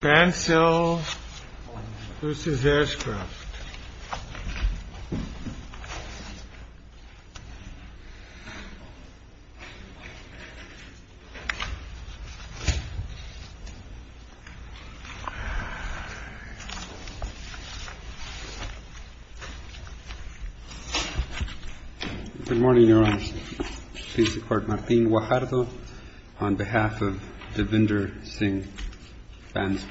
BANSEL v. ASHCROFT Good morning, Your Honor. Please support Martín Guajardo on behalf of Divinder Singh Bansel.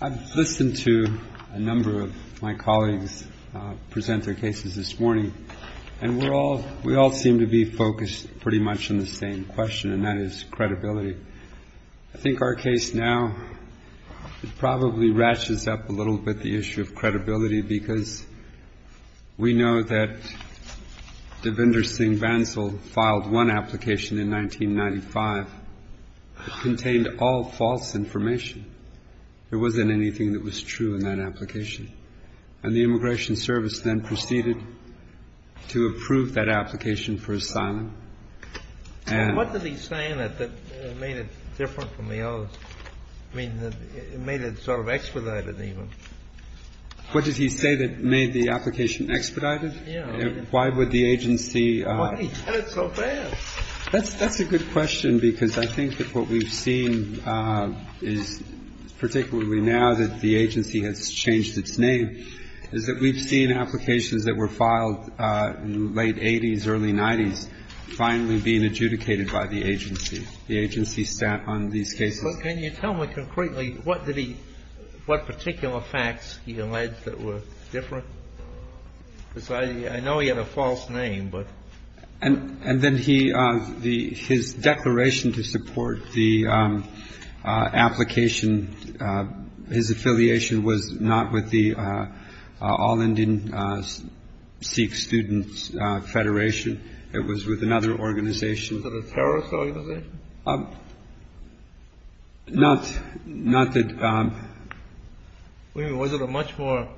I've listened to a number of my colleagues present their cases this morning, and we all seem to be focused pretty much on the same question, and that is credibility. I think our case now probably ratchets up a little bit the issue of credibility, because we know that Divinder Singh Bansel filed one application in 1995 that contained all false information. There wasn't anything that was true in that application. And the Immigration Service then proceeded to approve that application for asylum. What did he say in it that made it different from the others? I mean, it made it sort of expedited, even. What did he say that made the application expedited? Why would the agency — Why did he cut it so fast? That's a good question, because I think that what we've seen is, particularly now that the agency has changed its name, is that we've seen applications that were filed in the late 80s, early 90s finally being adjudicated by the agency. The agency's staff on these cases — So can you tell me concretely what did he — what particular facts he alleged that were different? Because I know he had a false name, but — And then he — his declaration to support the application, his affiliation was not with the All Indian Sikh Students Federation. It was with another organization. Was it a terrorist organization? Not — not that — I mean, was it a much more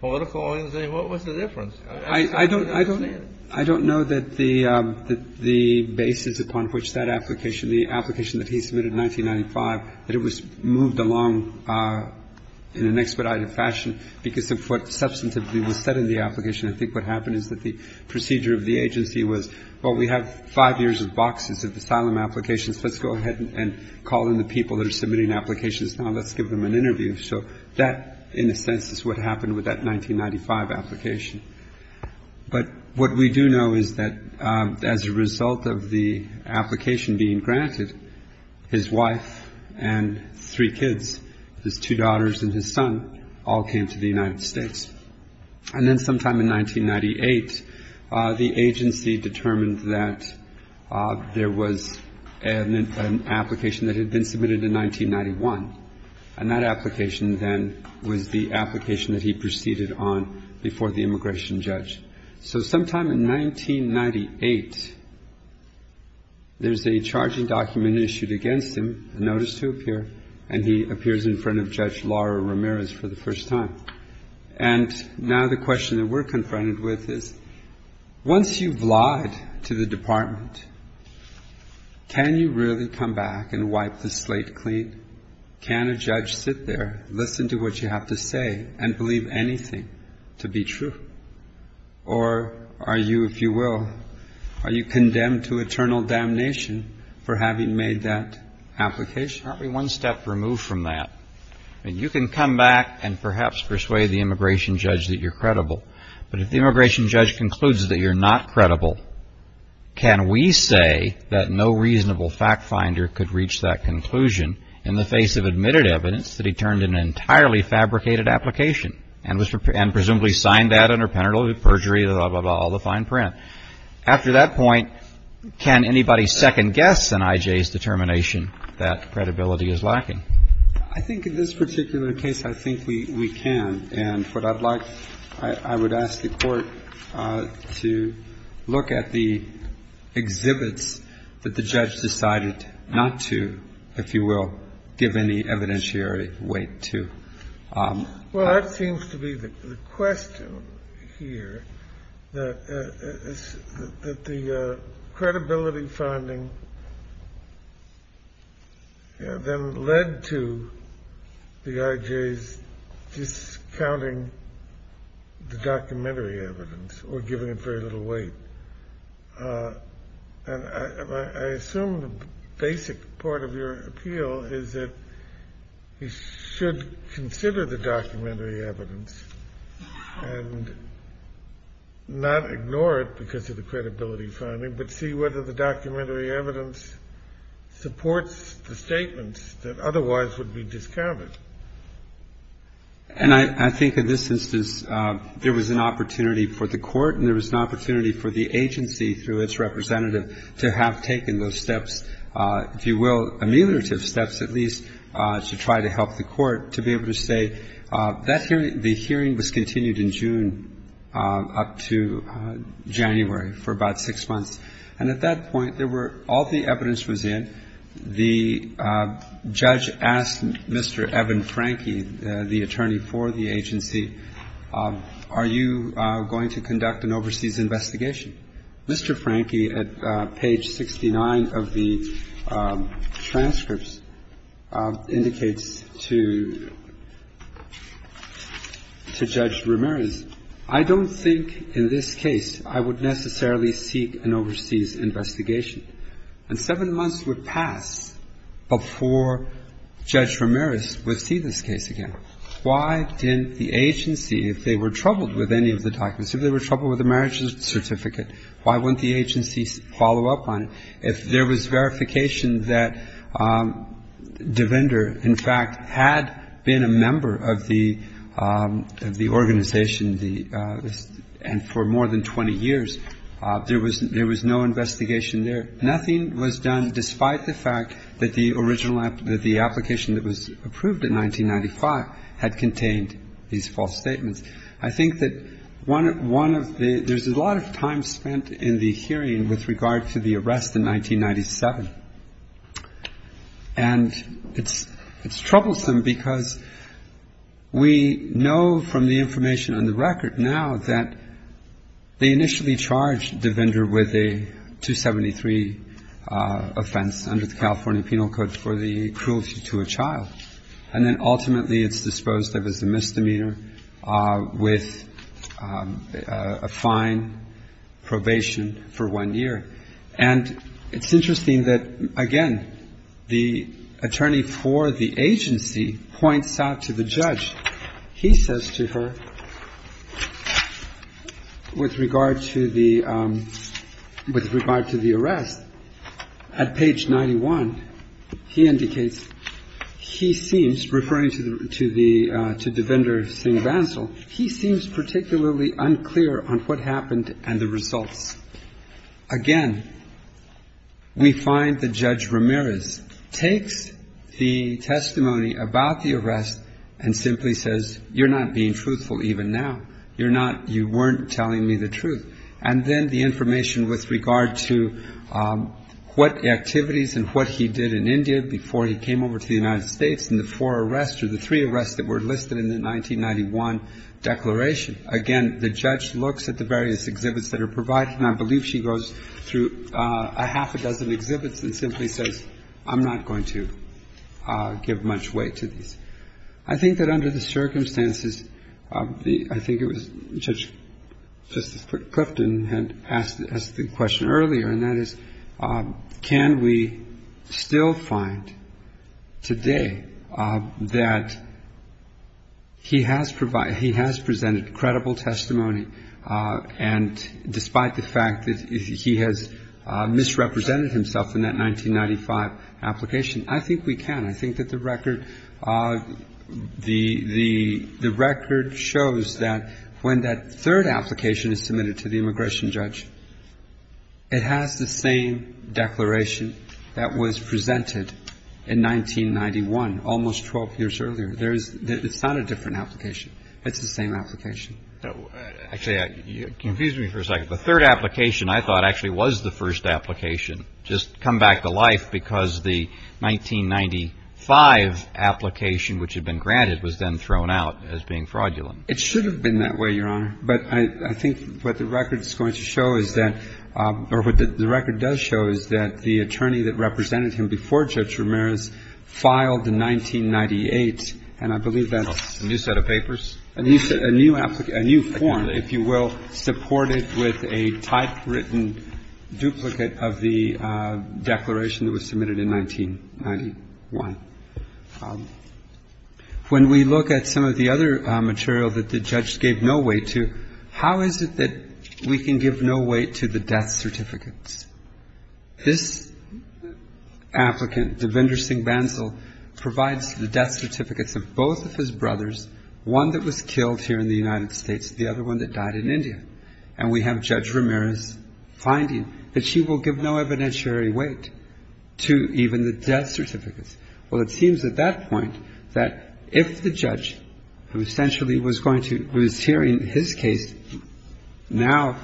political organization? What was the difference? I don't — I don't — I don't know that the basis upon which that application, the application that he submitted in 1995, that it was moved along in an expedited fashion, because of what substantively was said in the application. I think what happened is that the procedure of the agency was, well, we have five years of boxes of asylum applications. Let's go ahead and call in the people that are submitting applications. Now let's give them an interview. So that, in a sense, is what happened with that 1995 application. But what we do know is that as a result of the application being granted, his wife and three kids, his two daughters and his son, all came to the United States. And then sometime in 1998, the agency determined that there was an application that had been submitted in 1991. And that application, then, was the application that he proceeded on before the immigration judge. So sometime in 1998, there's a charging document issued against him, a notice to appear, and he appears in front of Judge Laura Ramirez for the first time. And now the question that we're confronted with is, once you've lied to the department, can you really come back and wipe the slate clean? Can a judge sit there, listen to what you have to say, and believe anything to be true? Or are you, if you will, are you condemned to eternal damnation for having made that application? Aren't we one step removed from that? I mean, you can come back and perhaps persuade the immigration judge that you're credible. But if the immigration judge concludes that you're not credible, can we say that no reasonable fact finder could reach that conclusion in the face of admitted evidence that he turned an entirely fabricated application and presumably signed that under penalty of perjury, blah, blah, blah, all the fine print? After that point, can anybody second-guess an I.J.'s determination that credibility is lacking? I think in this particular case, I think we can. And what I'd like, I would ask the Court to look at the exhibits that the judge decided not to, if you will, give any evidentiary weight to. Well, that seems to be the question here, that the credibility finding then led to the I.J.'s discounting the documentary evidence or giving it very little weight. And I assume the basic part of your appeal is that we should consider the documentary evidence and not ignore it because of the credibility finding, but see whether the documentary evidence supports the statements that otherwise would be discounted. And I think in this instance, there was an opportunity for the Court and there was an opportunity for the agency through its representative to have taken those steps, if you will, ameliorative steps, at least, to try to help the Court to be able to say that hearing, the hearing was continued in June up to January for about six months. And at that point, there were, all the evidence was in. The judge asked Mr. Evan Franke, the attorney for the agency, are you going to conduct an overseas investigation? Mr. Franke, at page 69 of the transcripts, indicates to Judge Ramirez, I don't think in this case I would necessarily seek an overseas investigation. And seven months would pass before Judge Ramirez would see this case again. And I think there was an opportunity for the Court to have an investigation and to ask the Court why didn't the agency, if they were troubled with any of the documents, if they were troubled with the marriage certificate, why wouldn't the agency follow up on it, if there was verification that DeVinder in fact had been a member of the organization for more than 20 years, there was no investigation there. Nothing was done despite the fact that the application that was approved in 1995 had contained these false statements. I think that there's a lot of time spent in the hearing with regard to the arrest in 1997. And it's troublesome because we know from the information on the record now that they initially charged DeVinder with a 273 offense under the California Penal Code for the cruelty to a child, and then ultimately it's disposed of as a misdemeanor with a fine, probation for one year. And it's interesting that, again, the attorney for the agency points out to the judge. He says to her, with regard to the arrest, at page 91, he indicates he seems, referring to DeVinder Singh Bansal, he seems particularly unclear on what happened and the results. Again, we find that Judge Ramirez takes the testimony about the arrest and simply says, you're not being truthful even now. You're not you weren't telling me the truth. And then the information with regard to what activities and what he did in India before he came over to the United States and the four arrests or the three arrests that were listed in the 1991 declaration. Again, the judge looks at the various exhibits that are provided, and I believe she goes through a half a dozen exhibits and simply says, I'm not going to give much weight to these. I think that under the circumstances, I think it was Judge Clifton had asked the question earlier, and that is, can we still find today that he has provided, he has presented credible testimony, and despite the fact that he has misrepresented himself in that 1995 application, I think we can. I think that the record, the record shows that when that third application is submitted to the immigration judge, it has the same declaration that was presented in 1991, almost 12 years earlier. It's not a different application. It's the same application. Actually, it confused me for a second. The third application I thought actually was the first application just come back to life because the 1995 application, which had been granted, was then thrown out as being fraudulent. It should have been that way, Your Honor. But I think what the record is going to show is that, or what the record does show, is that the attorney that represented him before Judge Ramirez filed in 1998, and I believe that's A new set of papers? A new set, a new form, if you will, supported with a typewritten duplicate of the declaration that was submitted in 1991. When we look at some of the other material that the judge gave no weight to, how is it that we can give no weight to the death certificates? This applicant, Devinder Singh Bansal, provides the death certificates of both of his brothers, one that was killed here in the United States, the other one that died in India. And we have Judge Ramirez finding that she will give no evidentiary weight to even the death certificates. Well, it seems at that point that if the judge, who essentially was going to, was hearing his case now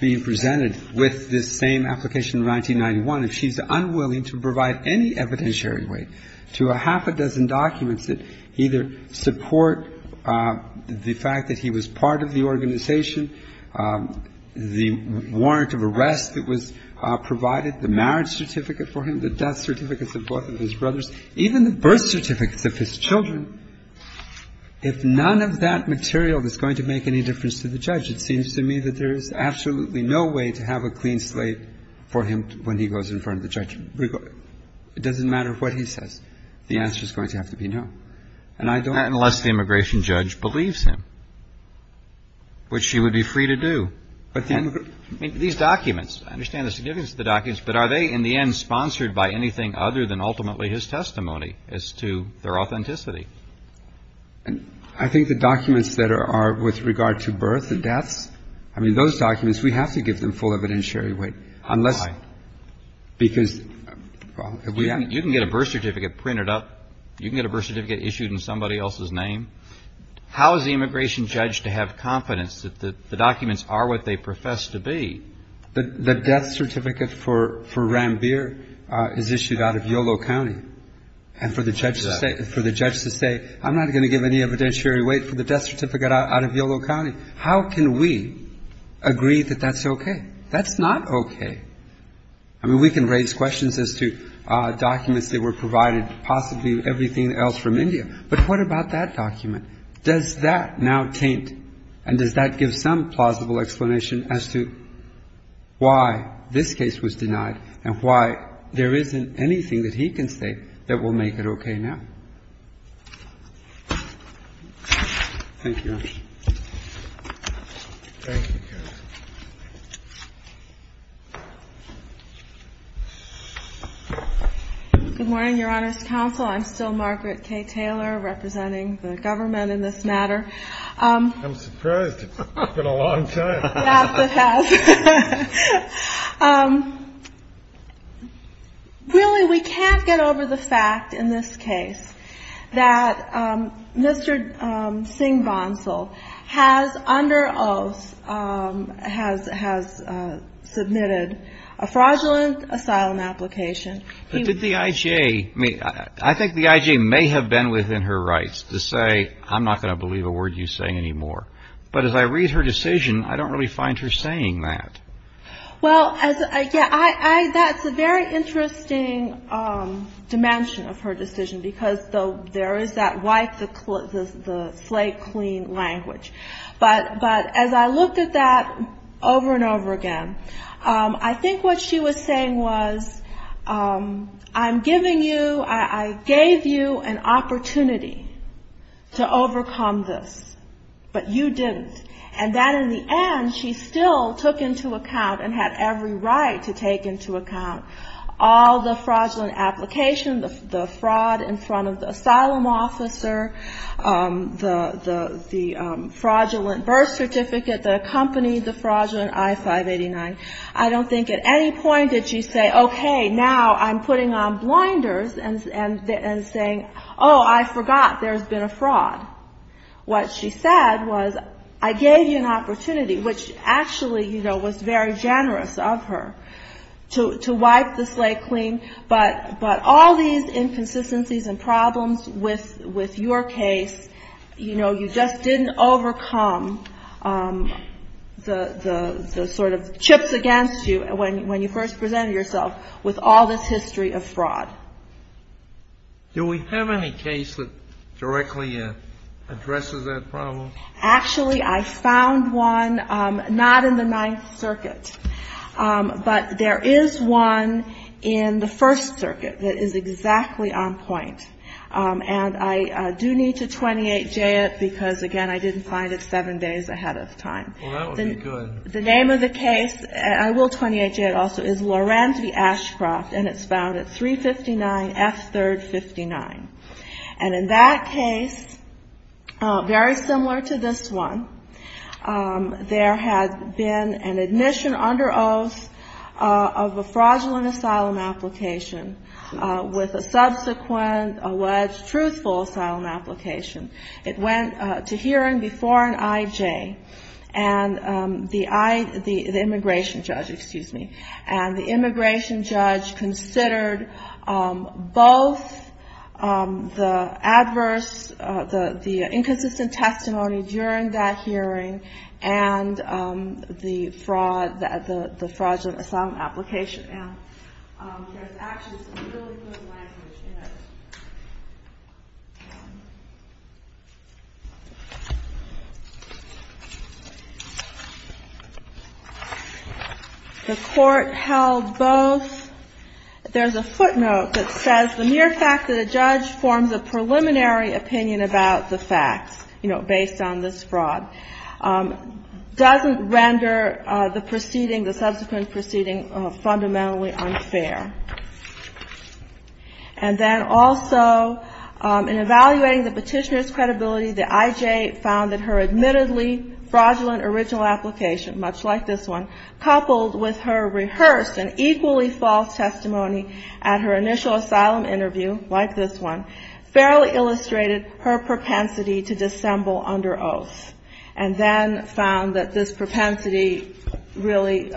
being presented with this same application in 1991, if she's unwilling to provide any evidentiary weight to a half a dozen documents that either support the fact that he was part of the organization, the warrant of arrest that was provided, the marriage certificate for him, the death certificates of both of his brothers, even the birth certificates of his children, if none of that material is going to make any difference to the judge, it seems to me that there is absolutely no way to have a clean slate for him when he goes in front of the judge. It doesn't matter what he says. The answer is going to have to be no. And I don't... Unless the immigration judge believes him, which he would be free to do. These documents, I understand the significance of the documents, but are they in the end sponsored by anything other than ultimately his testimony as to their authenticity? I think the documents that are with regard to birth and deaths, I mean, those documents, we have to give them full evidentiary weight unless... Why? Because... You can get a birth certificate printed up. You can get a birth certificate issued in somebody else's name. How is the immigration judge to have confidence that the documents are what they profess to be? The death certificate for Ranbir is issued out of Yolo County. And for the judge to say, I'm not going to give any evidentiary weight for the death certificate out of Yolo County, how can we agree that that's okay? That's not okay. I mean, we can raise questions as to documents that were provided, possibly everything else from India. But what about that document? Does that now taint and does that give some plausible explanation as to why this case was denied and why there isn't anything that he can say that will make it okay now? Thank you, Your Honor. Thank you, counsel. Good morning, Your Honor's counsel. I'm still Margaret K. Taylor, representing the government in this matter. I'm surprised. It's been a long time. Yes, it has. Really, we can't get over the fact in this case that Mr. Singh Bansal has, under oath, has submitted a fraudulent asylum application. But did the I.J. I mean, I think the I.J. may have been within her rights to say, I'm not going to believe a word you say anymore. But as I read her decision, I don't really find her saying that. Well, that's a very interesting dimension of her decision because there is that white, the slate clean language. But as I looked at that over and over again, I think what she was saying was, I'm giving you, I gave you an opportunity to overcome this. But you didn't. And that, in the end, she still took into account and had every right to take into account all the fraudulent application, the fraud in front of the asylum officer, the fraudulent birth certificate that accompanied the fraudulent I-589. I don't think at any point did she say, okay, now I'm putting on blinders and saying, oh, I forgot there's been a fraud. What she said was, I gave you an opportunity, which actually, you know, was very generous of her, to wipe the slate clean. But all these inconsistencies and problems with your case, you know, you just didn't overcome the sort of chips against you when you first presented yourself with all this history of fraud. Do we have any case that directly addresses that problem? Actually, I found one, not in the Ninth Circuit. But there is one in the First Circuit that is exactly on point. And I do need to 28J it because, again, I didn't find it seven days ahead of time. Well, that would be good. The name of the case, and I will 28J it also, is Lorenz v. Ashcroft, and it's found at 359 F. 3rd 59. And in that case, very similar to this one, there had been an admission under oath of a fraudulent asylum application with a subsequent alleged truthful asylum application. It went to hearing before an IJ, the immigration judge, excuse me. And the immigration judge considered both the adverse, the inconsistent testimony during that hearing and the fraudulent asylum application. And there's actually some really good language in it. The Court held both. There's a footnote that says the mere fact that a judge forms a preliminary opinion about the facts, you know, And then also, in evaluating the petitioner's credibility, the IJ found that her admittedly fraudulent original application, much like this one, coupled with her rehearsed and equally false testimony at her initial asylum interview, like this one, fairly illustrated her propensity to dissemble under oath. And then found that this propensity really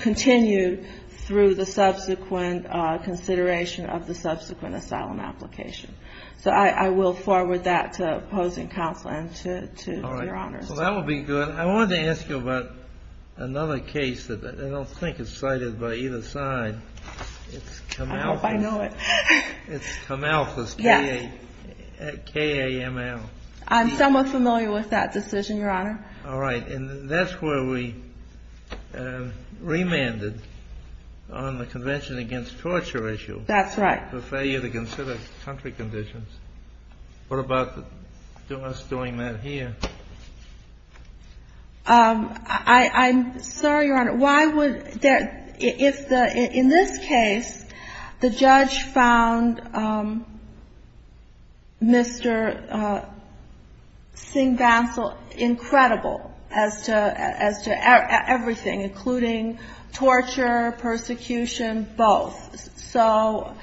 continued through the subsequent consideration of the subsequent asylum application. So I will forward that to opposing counsel and to Your Honor. So that would be good. I wanted to ask you about another case that I don't think is cited by either side. I hope I know it. It's KML. I'm somewhat familiar with that decision, Your Honor. All right. And that's where we remanded on the Convention Against Torture issue. That's right. For failure to consider country conditions. I'm sorry, Your Honor. In this case, the judge found Mr. Singh-Bansal incredible as to everything, including torture, persecution, both. So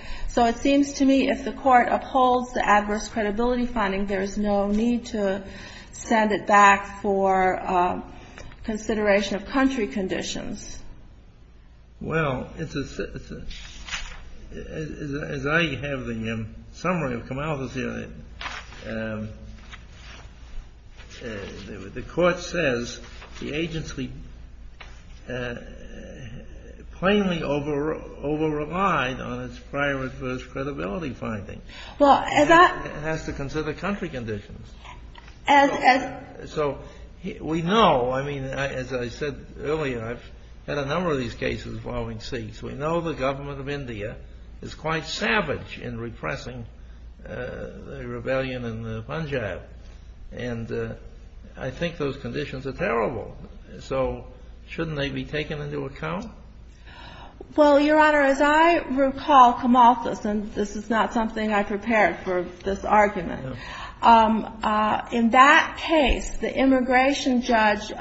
it seems to me if the court upholds the adverse credibility finding, there's no need to send it back for consideration of country conditions. Well, it's a — as I have the summary of KML here, the court says the agency plainly overrelied on its prior adverse credibility finding. Well, as I — It has to consider country conditions. As — So we know — I mean, as I said earlier, I've had a number of these cases involving Sikhs. We know the government of India is quite savage in repressing the rebellion in Punjab. And I think those conditions are terrible. So shouldn't they be taken into account? Well, Your Honor, as I recall, Kamalthus — and this is not something I prepared for this argument. No. In that case, the immigration judge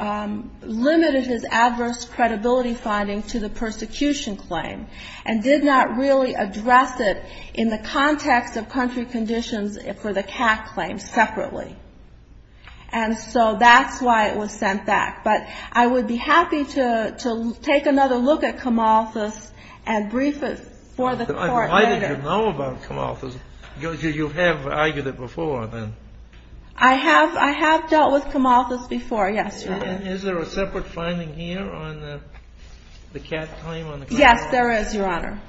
limited his adverse credibility finding to the persecution claim and did not really address it in the context of country conditions for the CAC claim separately. And so that's why it was sent back. But I would be happy to take another look at Kamalthus and brief it for the court later. You know about Kamalthus. You have argued it before, then. I have. I have dealt with Kamalthus before. Yes, Your Honor. And is there a separate finding here on the CAC claim on the — Yes, there is, Your Honor.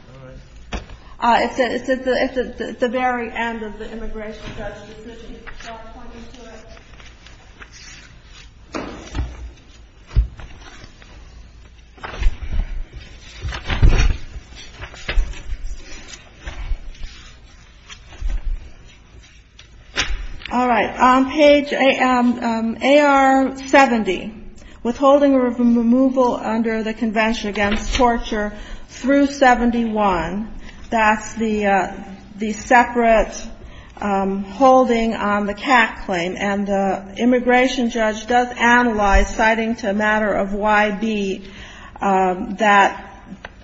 All right. It's at the very end of the immigration judge's decision. So I'll point you to it. All right. Page AR70. Withholding or removal under the Convention Against Torture through 71. That's the separate holding on the CAC claim. And the immigration judge does analyze, citing to a matter of YB, that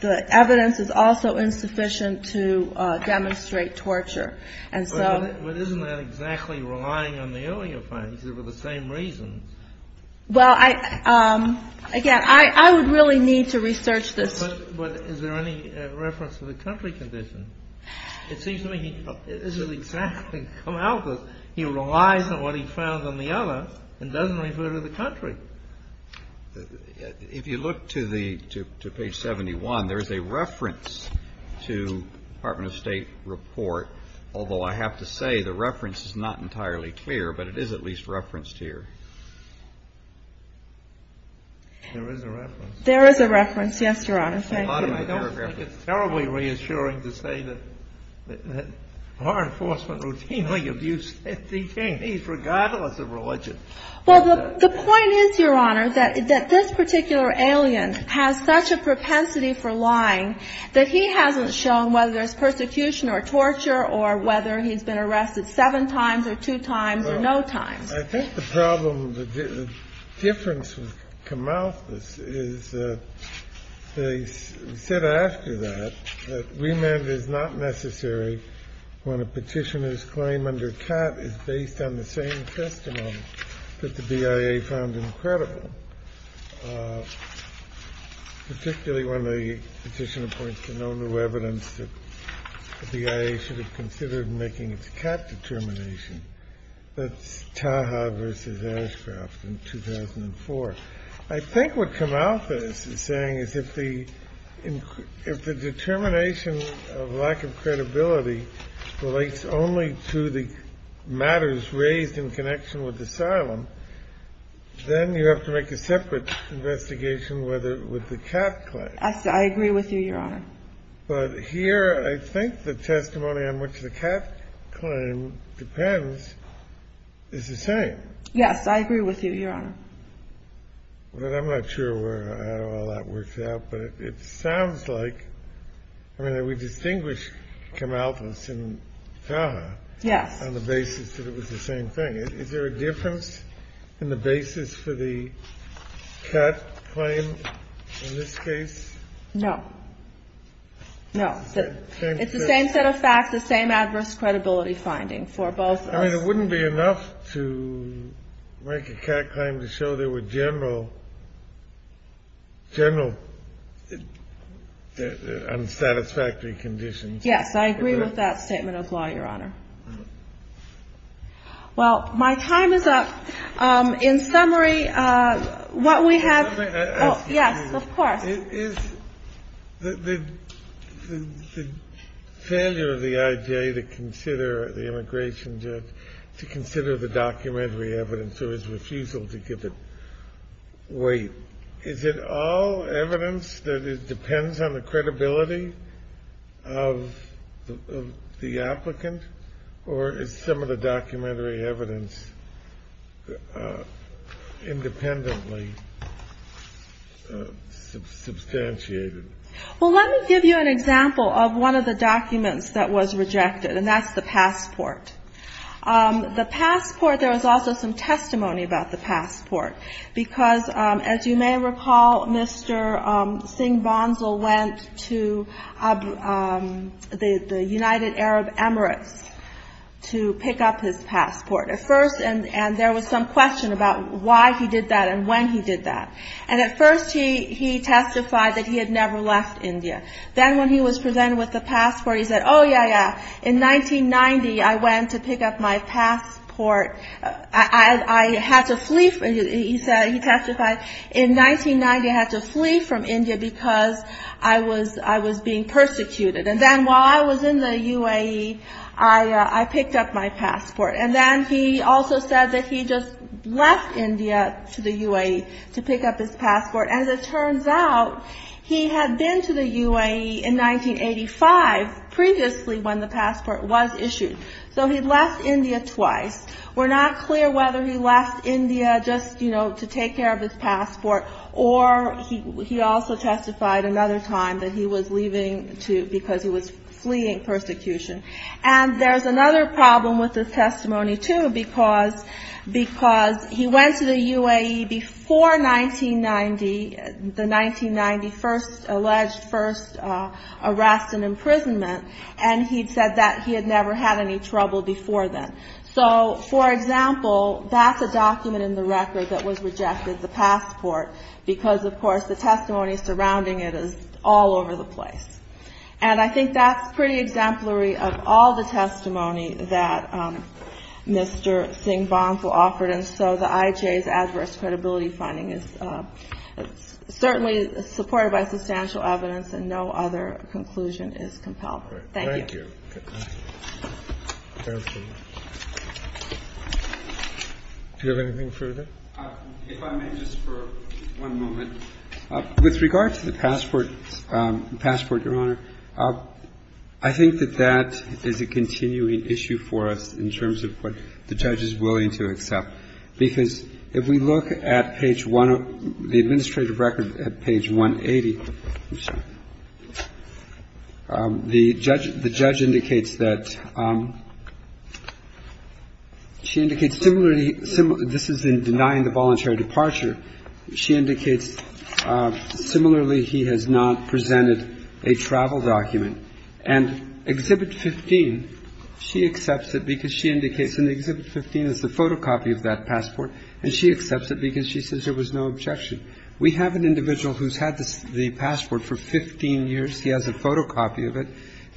the evidence is also insufficient to demonstrate torture. And so — But isn't that exactly relying on the earlier findings? They were the same reasons. Well, I — again, I would really need to research this. But is there any reference to the country condition? It seems to me it doesn't exactly come out that he relies on what he found on the other and doesn't refer to the country. If you look to the — to page 71, there is a reference to Department of State report, although I have to say the reference is not entirely clear, but it is at least referenced here. There is a reference. I don't think it's terribly reassuring to say that law enforcement routinely abuses detainees regardless of religion. Well, the point is, Your Honor, that this particular alien has such a propensity for lying that he hasn't shown whether there's persecution or torture or whether he's been arrested seven times or two times or no times. I think the problem — the difference with Camalthus is that they said after that that remand is not necessary when a Petitioner's claim under CAT is based on the same testimony that the BIA found incredible, particularly when the Petitioner points to no new evidence that the BIA should have considered making its CAT determination. That's Taha v. Ashcroft in 2004. I think what Camalthus is saying is if the determination of lack of credibility relates only to the matters raised in connection with asylum, then you have to make a separate investigation with the CAT claim. I agree with you, Your Honor. But here, I think the testimony on which the CAT claim depends is the same. Yes, I agree with you, Your Honor. But I'm not sure how all that works out. But it sounds like — I mean, we distinguish Camalthus and Taha on the basis that it was the same thing. Is there a difference in the basis for the CAT claim in this case? No. No. It's the same set of facts, the same adverse credibility finding for both of us. I mean, it wouldn't be enough to make a CAT claim to show there were general — general unsatisfactory conditions. Yes, I agree with that statement of law, Your Honor. Well, my time is up. In summary, what we have — Let me ask you — Yes, of course. Is the failure of the IJA to consider the immigration judge — to consider the documentary evidence or his refusal to give it weight, is it all evidence that depends on the credibility of the applicant? Or is some of the documentary evidence independently substantiated? Well, let me give you an example of one of the documents that was rejected, and that's the passport. The passport — there was also some testimony about the passport. Because, as you may recall, Mr. Singh Bansal went to the United Arab Emirates to pick up his passport at first, and there was some question about why he did that and when he did that. And at first, he testified that he had never left India. Then when he was presented with the passport, he said, oh, yeah, yeah. In 1990, I went to pick up my passport. I had to flee — he testified, in 1990, I had to flee from India because I was being persecuted. And then while I was in the UAE, I picked up my passport. And then he also said that he just left India to the UAE to pick up his passport. As it turns out, he had been to the UAE in 1985, previously when the passport was issued. So he left India twice. We're not clear whether he left India just, you know, to take care of his passport, or he also testified another time that he was leaving because he was fleeing persecution. And there's another problem with his testimony, too, because he went to the UAE before 1990, the 1990 alleged first arrest and imprisonment, and he said that he had never had any trouble before then. So, for example, that's a document in the record that was rejected, the passport, because, of course, the testimony surrounding it is all over the place. And I think that's pretty exemplary of all the testimony that Mr. Singh Bansal offered. And so the IJA's adverse credibility finding is certainly supported by substantial evidence, and no other conclusion is compelled. Thank you. Thank you. Do you have anything further? If I may, just for one moment. With regard to the passport, Your Honor, I think that that is a continuing issue for us in terms of what the judge is willing to accept. Because if we look at page one of the administrative record at page 180, I'm sorry, the judge indicates that she indicates similarly, this is in denying the voluntary departure, she indicates similarly he has not presented a travel document. And Exhibit 15, she accepts it because she indicates in Exhibit 15 is the photocopy of that passport, and she accepts it because she says there was no objection. We have an individual who's had the passport for 15 years. He has a photocopy of it,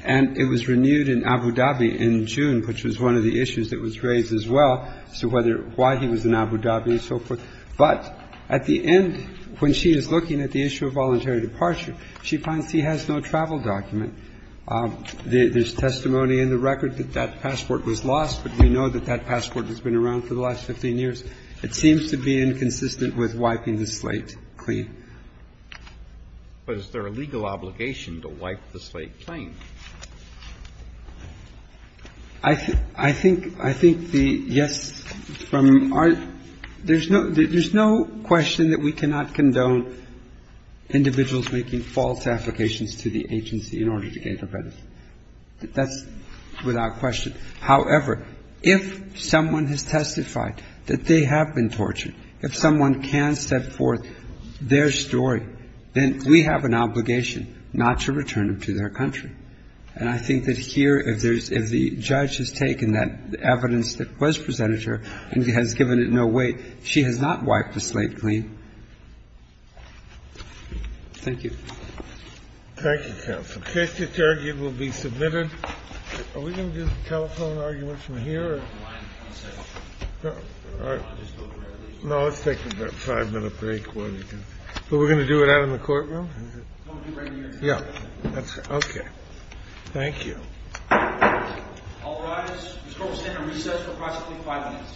and it was renewed in Abu Dhabi in June, which was one of the issues that was raised as well as to whether why he was in Abu Dhabi and so forth. But at the end, when she is looking at the issue of voluntary departure, she finds he has no travel document. There's testimony in the record that that passport was lost, but we know that that passport has been around for the last 15 years. It seems to be inconsistent with wiping the slate clean. But is there a legal obligation to wipe the slate clean? I think the yes from our – there's no question that we cannot condone individuals making false applications to the agency in order to gain their benefits. That's without question. However, if someone has testified that they have been tortured, if someone can set forth their story, then we have an obligation not to return them to their country. And I think that here, if there's – if the judge has taken that evidence that was presented to her and has given it no weight, she has not wiped the slate clean. Thank you. Thank you, counsel. The case that's argued will be submitted. Are we going to do the telephone argument from here? No, let's take a five-minute break. But we're going to do it out in the courtroom? Yes. Okay. Thank you. All rise. This court will stand at recess for approximately five minutes.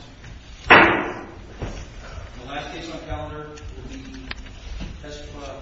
The last case on the calendar will be testifying. Mr. Bradford.